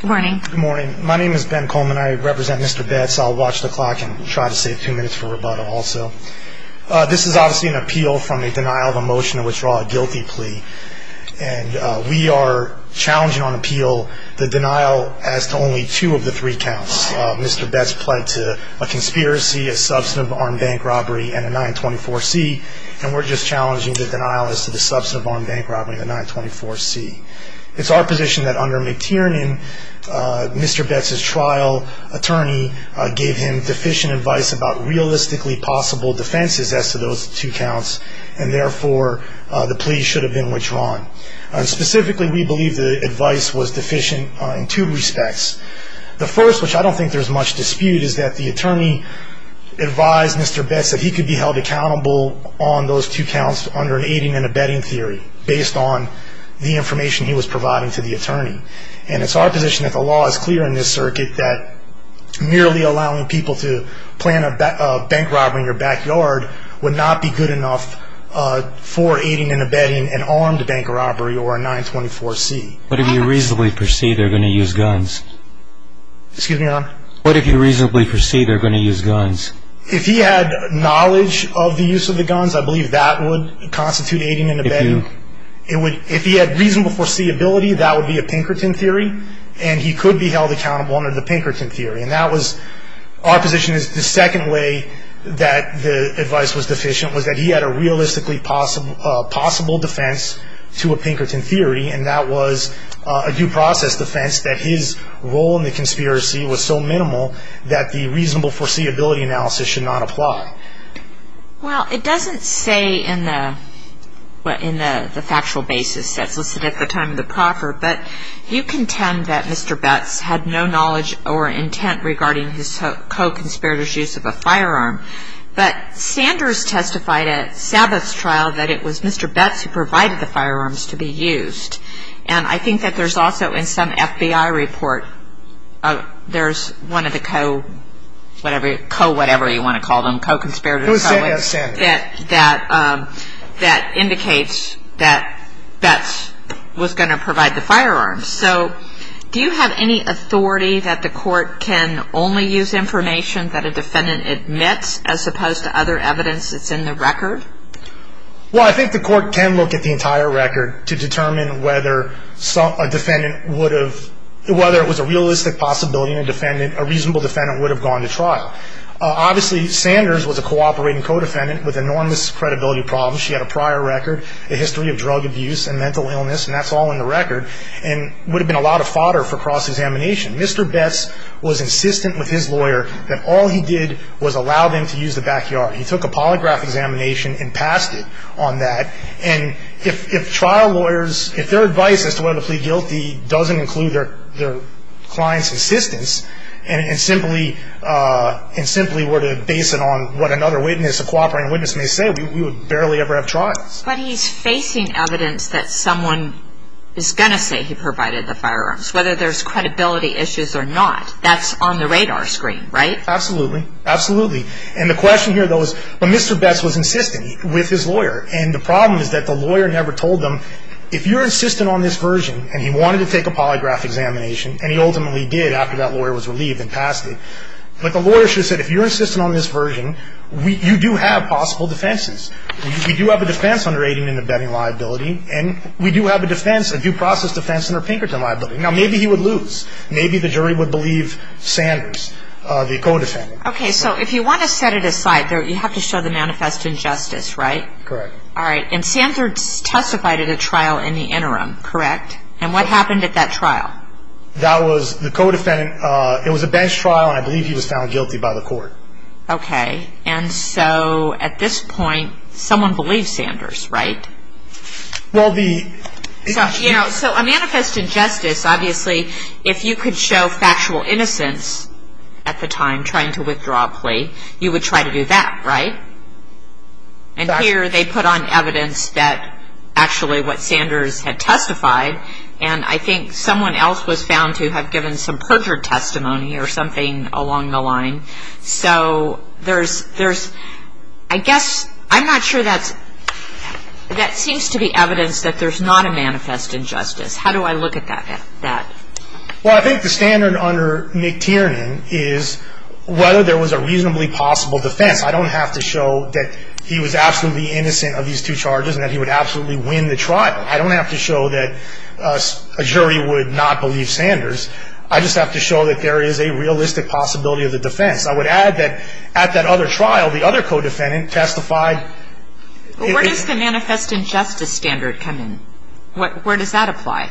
Good morning. My name is Ben Coleman. I represent Mr. Betts. I'll watch the clock and try to save a few minutes for rebuttal also. This is obviously an appeal from a denial of a motion to withdraw a guilty plea. And we are challenging on appeal the denial as to only two of the three counts. Mr. Betts pled to a conspiracy, a substantive armed bank robbery, and a 924C. And we're just challenging the denial as to the substantive armed bank robbery and the 924C. It's our position that under McTiernan, Mr. Betts' trial attorney gave him deficient advice about realistically possible defenses as to those two counts. And therefore, the plea should have been withdrawn. Specifically, we believe the advice was deficient in two respects. The first, which I don't think there's much dispute, is that the attorney advised Mr. Betts that he could be held accountable on those two counts under an aiding and abetting theory based on the information he was providing to the attorney. And it's our position that the law is clear in this circuit that merely allowing people to plan a bank robbery in your backyard would not be good enough for aiding and abetting an armed bank robbery or a 924C. What if you reasonably perceive they're going to use guns? Excuse me, Your Honor? What if you reasonably perceive they're going to use guns? If he had knowledge of the use of the guns, I believe that would constitute aiding and abetting. If he had reasonable foreseeability, that would be a Pinkerton theory, and he could be held accountable under the Pinkerton theory. Our position is the second way that the advice was deficient was that he had a realistically possible defense to a Pinkerton theory, and that was a due process defense that his role in the conspiracy was so minimal that the reasonable foreseeability analysis should not apply. Well, it doesn't say in the factual basis that's listed at the time of the proffer, but you contend that Mr. Betts had no knowledge or intent regarding his co-conspirator's use of a firearm. But Sanders testified at Sabbath's trial that it was Mr. Betts who provided the firearms to be used. And I think that there's also in some FBI report, there's one of the co-whatever you want to call them, co-conspirators, that indicates that Betts was going to provide the firearms. So do you have any authority that the court can only use information that a defendant admits as opposed to other evidence that's in the record? Well, I think the court can look at the entire record to determine whether a defendant would have, whether it was a realistic possibility that a reasonable defendant would have gone to trial. Obviously, Sanders was a cooperating co-defendant with enormous credibility problems. She had a prior record, a history of drug abuse and mental illness, and that's all in the record. And it would have been a lot of fodder for cross-examination. Mr. Betts was insistent with his lawyer that all he did was allow them to use the backyard. He took a polygraph examination and passed it on that. And if trial lawyers, if their advice as to whether to plead guilty doesn't include their client's insistence and simply were to base it on what another witness, a cooperating witness, may say, we would barely ever have trials. But he's facing evidence that someone is going to say he provided the firearms, whether there's credibility issues or not. That's on the radar screen, right? Absolutely. Absolutely. And the question here, though, is Mr. Betts was insistent with his lawyer. And the problem is that the lawyer never told them, if you're insistent on this version, and he wanted to take a polygraph examination, and he ultimately did after that lawyer was relieved and passed it. But the lawyer should have said, if you're insistent on this version, you do have possible defenses. We do have a defense under 18 in the betting liability. And we do have a defense, a due process defense under Pinkerton liability. Now, maybe he would lose. Maybe the jury would believe Sanders, the co-defendant. Okay. So if you want to set it aside, you have to show the manifest injustice, right? Correct. All right. And Sanders testified at a trial in the interim, correct? And what happened at that trial? That was the co-defendant, it was a bench trial, and I believe he was found guilty by the court. Okay. And so at this point, someone believes Sanders, right? Well, the- So a manifest injustice, obviously, if you could show factual innocence at the time trying to withdraw a plea, you would try to do that, right? And here they put on evidence that actually what Sanders had testified, and I think someone else was found to have given some perjured testimony or something along the line. So there's, I guess, I'm not sure that's, that seems to be evidence that there's not a manifest injustice. How do I look at that? Well, I think the standard under McTiernan is whether there was a reasonably possible defense. I don't have to show that he was absolutely innocent of these two charges and that he would absolutely win the trial. I don't have to show that a jury would not believe Sanders. I just have to show that there is a realistic possibility of the defense. I would add that at that other trial, the other co-defendant testified- Where does the manifest injustice standard come in? Where does that apply?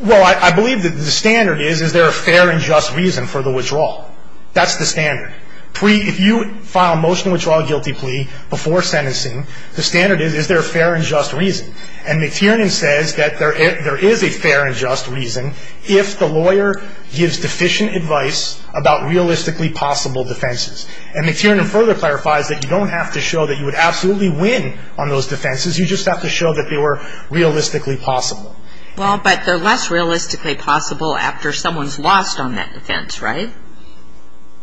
Well, I believe that the standard is, is there a fair and just reason for the withdrawal? That's the standard. If you file a motion to withdraw a guilty plea before sentencing, the standard is, is there a fair and just reason? And McTiernan says that there is a fair and just reason if the lawyer gives deficient advice about realistically possible defenses. And McTiernan further clarifies that you don't have to show that you would absolutely win on those defenses. You just have to show that they were realistically possible. Well, but they're less realistically possible after someone's lost on that defense, right?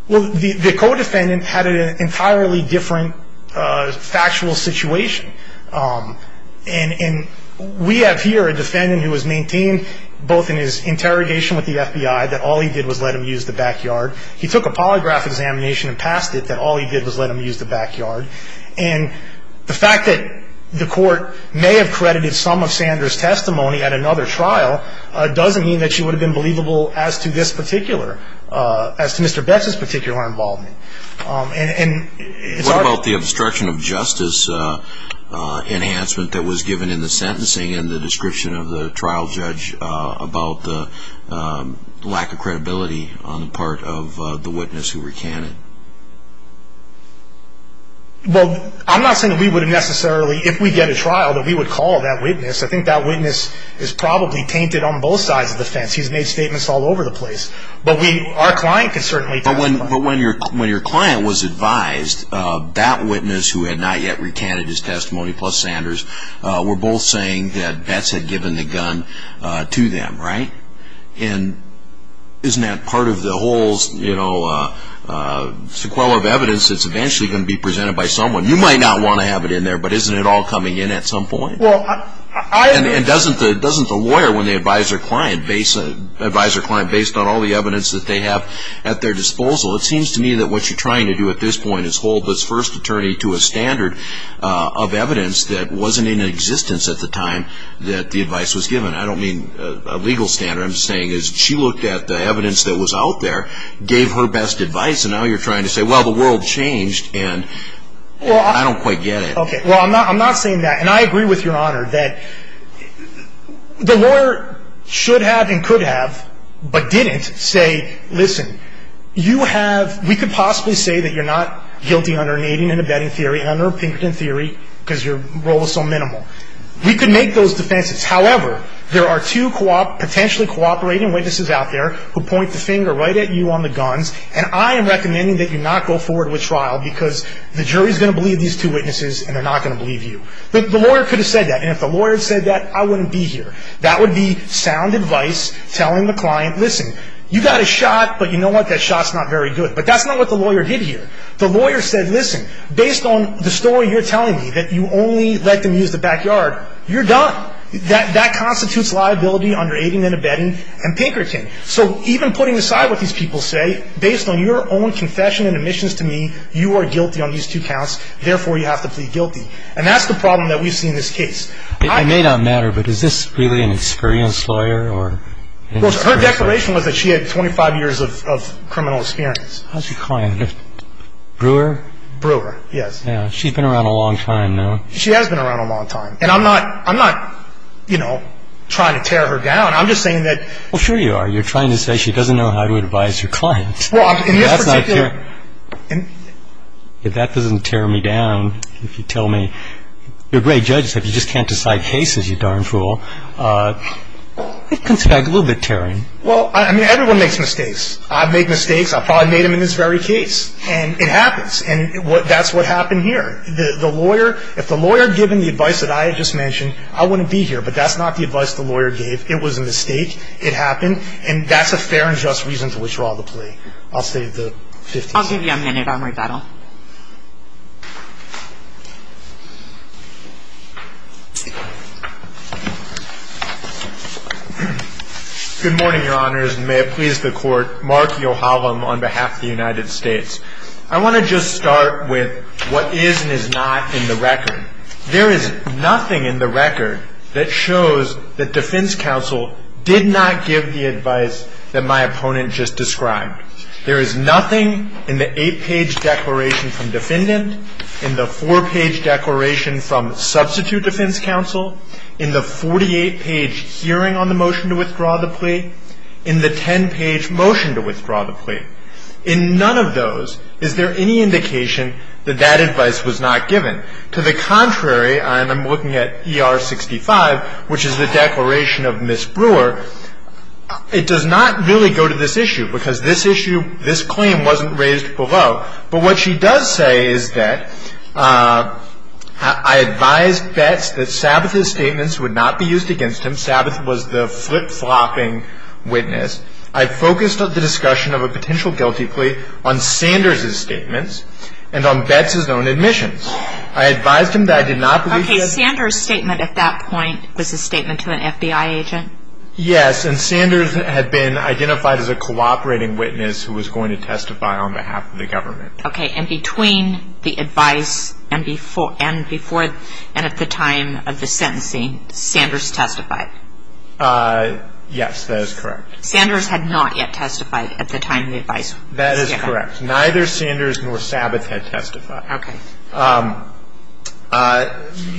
Well, the co-defendant had an entirely different factual situation. And we have here a defendant who has maintained both in his interrogation with the FBI that all he did was let him use the backyard. He took a polygraph examination and passed it that all he did was let him use the backyard. And the fact that the court may have credited some of Sanders' testimony at another trial doesn't mean that she would have been believable as to this particular, as to Mr. Betz's particular involvement. What about the obstruction of justice enhancement that was given in the sentencing and the description of the trial judge about the lack of credibility on the part of the witness who recanted? Well, I'm not saying that we would have necessarily, if we get a trial, that we would call that witness. I think that witness is probably tainted on both sides of the fence. He's made statements all over the place. But our client can certainly tell us that. But when your client was advised, that witness who had not yet recanted his testimony, plus Sanders, were both saying that Betz had given the gun to them, right? And isn't that part of the whole sequela of evidence that's eventually going to be presented by someone? You might not want to have it in there, but isn't it all coming in at some point? And doesn't the lawyer, when they advise their client based on all the evidence that they have at their disposal, it seems to me that what you're trying to do at this point is hold this first attorney to a standard of evidence that wasn't in existence at the time that the advice was given. I don't mean a legal standard. What I'm saying is she looked at the evidence that was out there, gave her best advice, and now you're trying to say, well, the world changed, and I don't quite get it. Okay, well, I'm not saying that. And I agree with Your Honor that the lawyer should have and could have, but didn't, say, listen, you have – we could possibly say that you're not guilty under nading and abetting theory, under Pinkerton theory, because your role is so minimal. We could make those defenses. However, there are two potentially cooperating witnesses out there who point the finger right at you on the guns, and I am recommending that you not go forward with trial because the jury is going to believe these two witnesses and they're not going to believe you. The lawyer could have said that, and if the lawyer had said that, I wouldn't be here. That would be sound advice telling the client, listen, you got a shot, but you know what? That shot's not very good. But that's not what the lawyer did here. The lawyer said, listen, based on the story you're telling me, that you only let them use the backyard, you're done. That constitutes liability under aiding and abetting and Pinkerton. So even putting aside what these people say, based on your own confession and admissions to me, you are guilty on these two counts, therefore you have to plead guilty. And that's the problem that we see in this case. It may not matter, but is this really an experienced lawyer or – Well, her declaration was that she had 25 years of criminal experience. How's your client, Brewer? Brewer, yes. She's been around a long time now. She has been around a long time. And I'm not – I'm not, you know, trying to tear her down. I'm just saying that – Well, sure you are. You're trying to say she doesn't know how to advise her client. Well, in this particular – If that doesn't tear me down, if you tell me – you're a great judge, except you just can't decide cases, you darn fool. It comes back a little bit tearing. Well, I mean, everyone makes mistakes. I've made mistakes. I probably made them in this very case. And it happens. And that's what happened here. The lawyer – if the lawyer had given the advice that I had just mentioned, I wouldn't be here. But that's not the advice the lawyer gave. It was a mistake. It happened. And that's a fair and just reason to withdraw the plea. I'll save the 50 seconds. I'll give you a minute. I'll make that up. Good morning, Your Honors, and may it please the Court. Mark Yohalam on behalf of the United States. I want to just start with what is and is not in the record. There is nothing in the record that shows that defense counsel did not give the advice that my opponent just described. There is nothing in the 8-page declaration from defendant, in the 4-page declaration from substitute defense counsel, in the 48-page hearing on the motion to withdraw the plea, in the 10-page motion to withdraw the plea. In none of those is there any indication that that advice was not given. To the contrary, and I'm looking at ER 65, which is the declaration of Ms. Brewer, it does not really go to this issue because this issue, this claim wasn't raised below. But what she does say is that I advised Betz that Sabbath's statements would not be used against him. Sabbath was the flip-flopping witness. I focused the discussion of a potential guilty plea on Sanders' statements and on Betz's own admissions. I advised him that I did not believe he had Okay, Sanders' statement at that point was a statement to an FBI agent? Yes, and Sanders had been identified as a cooperating witness who was going to testify on behalf of the government. Okay, and between the advice and at the time of the sentencing, Sanders testified? Yes, that is correct. Sanders had not yet testified at the time the advice was given. That is correct. Neither Sanders nor Sabbath had testified. Okay.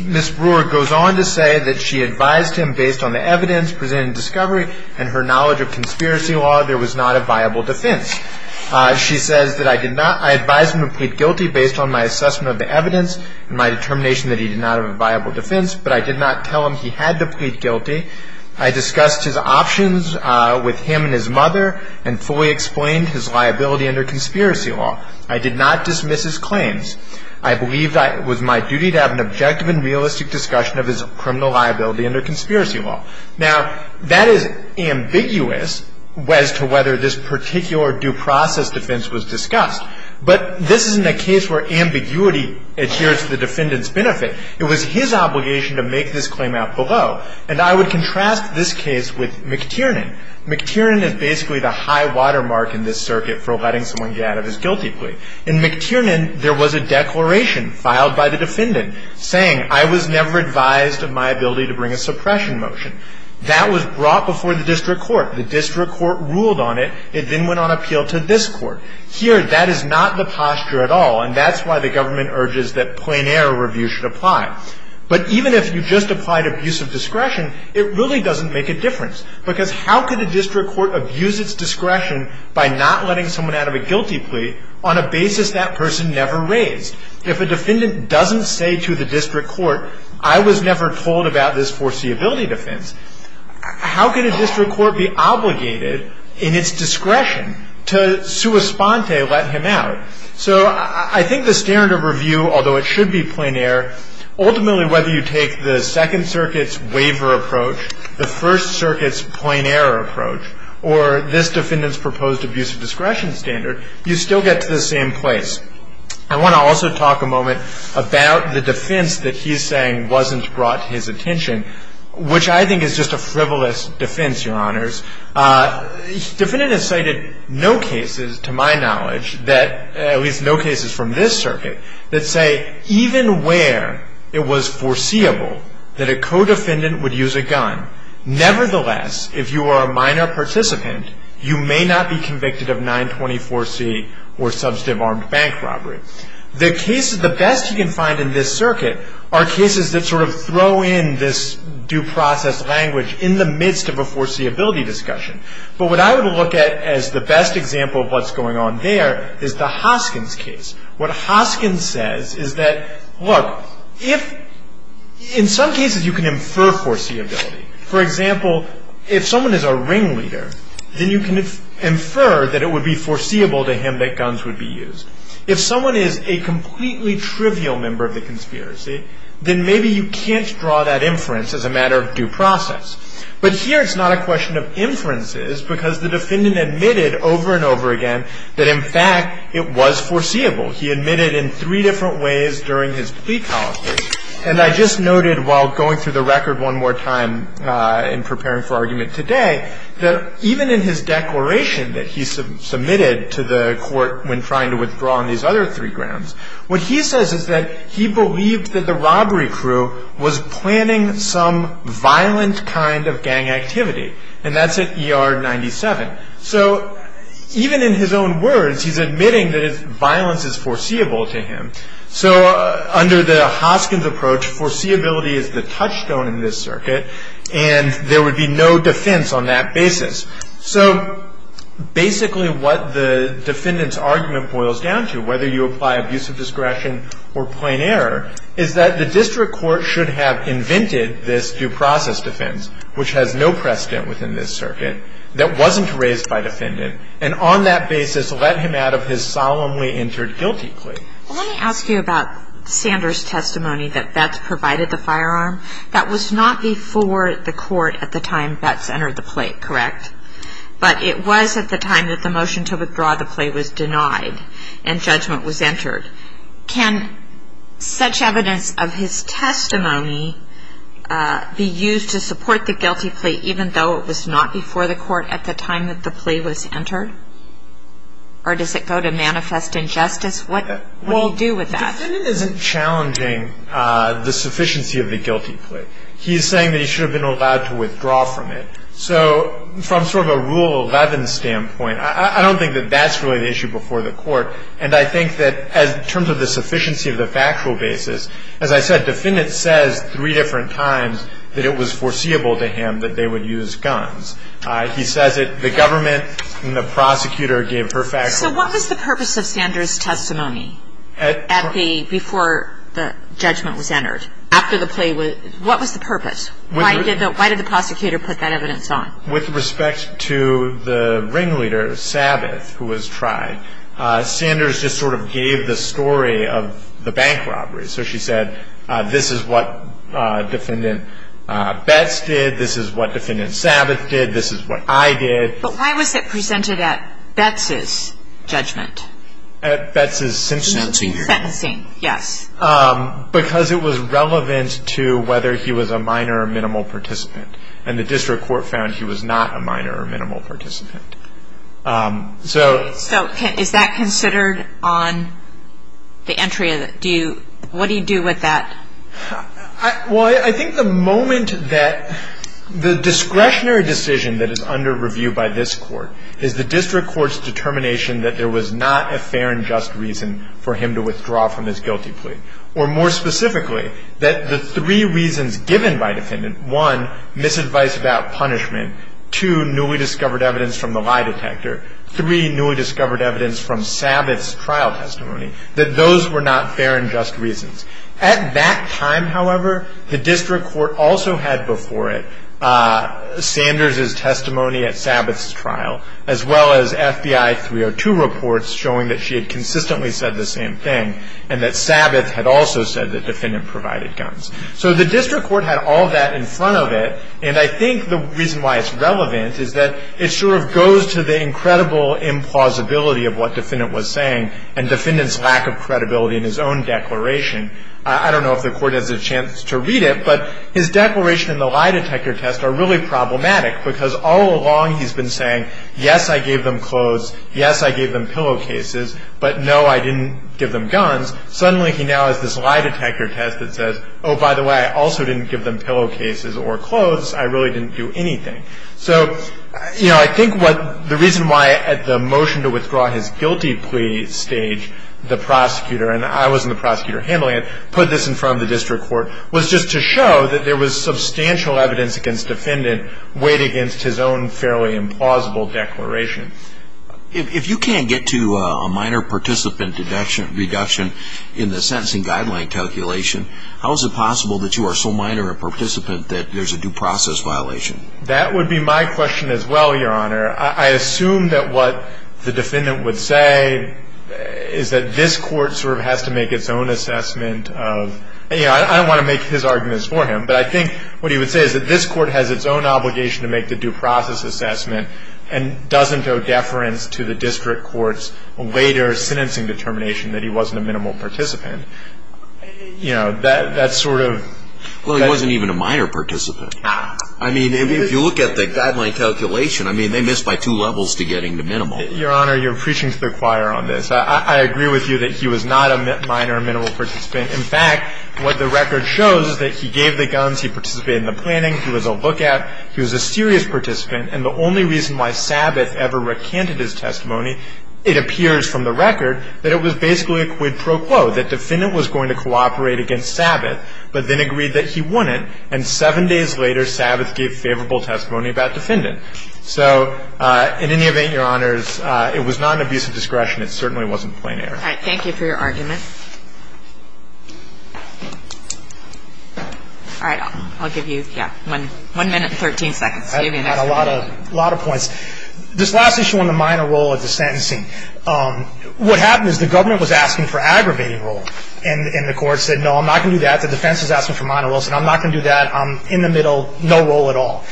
Ms. Brewer goes on to say that she advised him based on the evidence presented in discovery and her knowledge of conspiracy law, there was not a viable defense. She says that I did not, I advised him to plead guilty based on my assessment of the evidence and my determination that he did not have a viable defense, but I did not tell him he had to plead guilty. I discussed his options with him and his mother and fully explained his liability under conspiracy law. I did not dismiss his claims. I believed it was my duty to have an objective and realistic discussion of his criminal liability under conspiracy law. Now, that is ambiguous as to whether this particular due process defense was discussed, but this isn't a case where ambiguity adheres to the defendant's benefit. It was his obligation to make this claim out below, and I would contrast this case with McTiernan. McTiernan is basically the high-water mark in this circuit for letting someone get out of his guilty plea. In McTiernan, there was a declaration filed by the defendant saying, I was never advised of my ability to bring a suppression motion. That was brought before the district court. The district court ruled on it. It then went on appeal to this court. Here, that is not the posture at all, and that's why the government urges that plein air review should apply. But even if you just applied abuse of discretion, it really doesn't make a difference, because how could the district court abuse its discretion by not letting someone out of a guilty plea on a basis that person never raised? If a defendant doesn't say to the district court, I was never told about this foreseeability defense, how could a district court be obligated in its discretion to sua sponte, let him out? So I think the standard of review, although it should be plein air, ultimately whether you take the Second Circuit's waiver approach, the First Circuit's plein air approach, or this defendant's proposed abuse of discretion standard, you still get to the same place. I want to also talk a moment about the defense that he's saying wasn't brought to his attention, which I think is just a frivolous defense, Your Honors. Defendant has cited no cases, to my knowledge, at least no cases from this circuit, that say even where it was foreseeable that a co-defendant would use a gun, nevertheless, if you are a minor participant, you may not be convicted of 924C or substantive armed bank robbery. The best you can find in this circuit are cases that sort of throw in this due process language in the midst of a foreseeability discussion. But what I would look at as the best example of what's going on there is the Hoskins case. What Hoskins says is that, look, in some cases you can infer foreseeability. For example, if someone is a ringleader, then you can infer that it would be foreseeable to him that guns would be used. If someone is a completely trivial member of the conspiracy, then maybe you can't draw that inference as a matter of due process. But here it's not a question of inferences because the defendant admitted over and over again that, in fact, it was foreseeable. He admitted in three different ways during his plea policy. And I just noted while going through the record one more time in preparing for argument today that even in his declaration that he submitted to the court when trying to withdraw on these other three grounds, what he says is that he believed that the robbery crew was planning some violent kind of gang activity. And that's at ER 97. So even in his own words, he's admitting that violence is foreseeable to him. So under the Hoskins approach, foreseeability is the touchstone in this circuit, and there would be no defense on that basis. So basically what the defendant's argument boils down to, whether you apply abusive discretion or plain error, is that the district court should have invented this due process defense, which has no precedent within this circuit, that wasn't raised by defendant, and on that basis let him out of his solemnly entered guilty plea. Well, let me ask you about Sanders' testimony that Betz provided the firearm. That was not before the court at the time Betz entered the plea, correct? But it was at the time that the motion to withdraw the plea was denied and judgment was entered. Can such evidence of his testimony be used to support the guilty plea, even though it was not before the court at the time that the plea was entered? Or does it go to manifest injustice? What do you do with that? The defendant isn't challenging the sufficiency of the guilty plea. He's saying that he should have been allowed to withdraw from it. So from sort of a Rule 11 standpoint, I don't think that that's really the issue before the court. And I think that in terms of the sufficiency of the factual basis, as I said, defendant says three different times that it was foreseeable to him that they would use guns. He says that the government and the prosecutor gave her factual basis. So what was the purpose of Sanders' testimony before the judgment was entered? What was the purpose? Why did the prosecutor put that evidence on? With respect to the ringleader, Sabbath, who was tried, Sanders just sort of gave the story of the bank robbery. So she said, this is what defendant Betz did, this is what defendant Sabbath did, this is what I did. But why was it presented at Betz's judgment? At Betz's sentencing hearing. Sentencing, yes. Because it was relevant to whether he was a minor or minimal participant. And the district court found he was not a minor or minimal participant. So is that considered on the entry? What do you do with that? Well, I think the moment that the discretionary decision that is under review by this court is the district court's determination that there was not a fair and just reason for him to withdraw from his guilty plea. Or more specifically, that the three reasons given by defendant, one, misadvice about punishment, two, newly discovered evidence from the lie detector, three, newly discovered evidence from Sabbath's trial testimony, that those were not fair and just reasons. At that time, however, the district court also had before it Sanders' testimony at Sabbath's trial, as well as FBI 302 reports showing that she had consistently said the same thing, and that Sabbath had also said that defendant provided guns. So the district court had all that in front of it, and I think the reason why it's relevant is that it sort of goes to the incredible implausibility of what defendant was saying and defendant's lack of credibility in his own declaration. I don't know if the court has a chance to read it, but his declaration in the lie detector test are really problematic, because all along he's been saying, yes, I gave them clothes, yes, I gave them pillowcases, but no, I didn't give them guns. Suddenly, he now has this lie detector test that says, oh, by the way, I also didn't give them pillowcases or clothes. I really didn't do anything. So, you know, I think what the reason why at the motion to withdraw his guilty plea stage, the prosecutor, and I wasn't the prosecutor handling it, put this in front of the district court was just to show that there was substantial evidence against defendant's weight against his own fairly implausible declaration. If you can't get to a minor participant deduction reduction in the sentencing guideline calculation, how is it possible that you are so minor a participant that there's a due process violation? That would be my question as well, Your Honor. I assume that what the defendant would say is that this court sort of has to make its own assessment of, you know, I don't want to make his arguments for him, but I think what he would say is that this court has its own obligation to make the due process assessment and doesn't owe deference to the district court's later sentencing determination that he wasn't a minimal participant. You know, that's sort of... Well, he wasn't even a minor participant. I mean, if you look at the guideline calculation, I mean, they missed by two levels to getting to minimal. Your Honor, you're preaching to the choir on this. I agree with you that he was not a minor or minimal participant. In fact, what the record shows is that he gave the guns, he participated in the planning, he was a lookout, he was a serious participant, and the only reason why Sabbath ever recanted his testimony, it appears from the record that it was basically a quid pro quo, that defendant was going to cooperate against Sabbath but then agreed that he wouldn't, and seven days later, Sabbath gave favorable testimony about defendant. So in any event, Your Honors, it was not an abuse of discretion. It certainly wasn't plenary. All right. Thank you for your argument. All right. I'll give you, yeah, one minute and 13 seconds. I've got a lot of points. This last issue on the minor role of the sentencing, what happened is the government was asking for aggravating role, and the court said, no, I'm not going to do that. The defense is asking for minor roles, and I'm not going to do that. I'm in the middle, no role at all.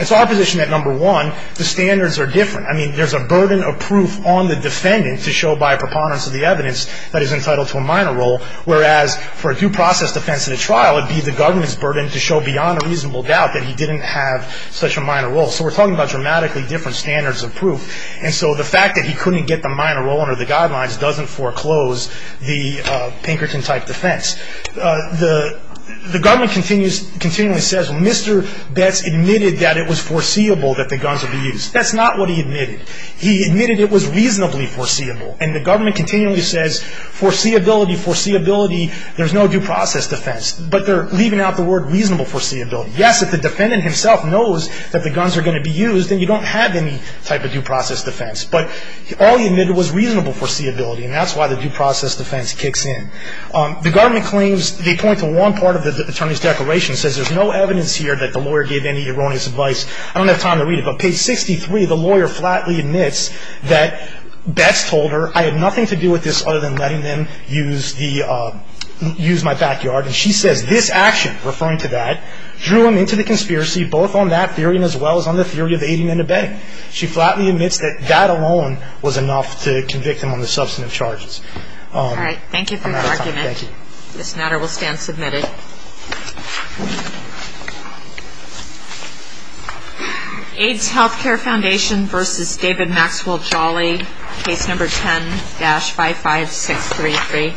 It's our position that, number one, the standards are different. I mean, there's a burden of proof on the defendant to show by a preponderance of the evidence that he's entitled to a minor role, whereas for a due process defense in a trial, it would be the government's burden to show beyond a reasonable doubt that he didn't have such a minor role. So we're talking about dramatically different standards of proof, and so the fact that he couldn't get the minor role under the guidelines doesn't foreclose the Pinkerton-type defense. The government continually says, well, Mr. Betts admitted that it was foreseeable that the guns would be used. That's not what he admitted. He admitted it was reasonably foreseeable, and the government continually says, foreseeability, foreseeability, there's no due process defense, but they're leaving out the word reasonable foreseeability. Yes, if the defendant himself knows that the guns are going to be used, then you don't have any type of due process defense, but all he admitted was reasonable foreseeability, and that's why the due process defense kicks in. The government claims, they point to one part of the attorney's declaration that says there's no evidence here that the lawyer gave any erroneous advice. I don't have time to read it, but page 63, the lawyer flatly admits that Betts told her, I have nothing to do with this other than letting them use the, use my backyard, and she says this action, referring to that, drew him into the conspiracy both on that theory as well as on the theory of aiding and abetting. She flatly admits that that alone was enough to convict him on the substantive charges. All right, thank you for your argument. Thank you. This matter will stand submitted. AIDS Healthcare Foundation versus David Maxwell Jolly, case number 10-55633.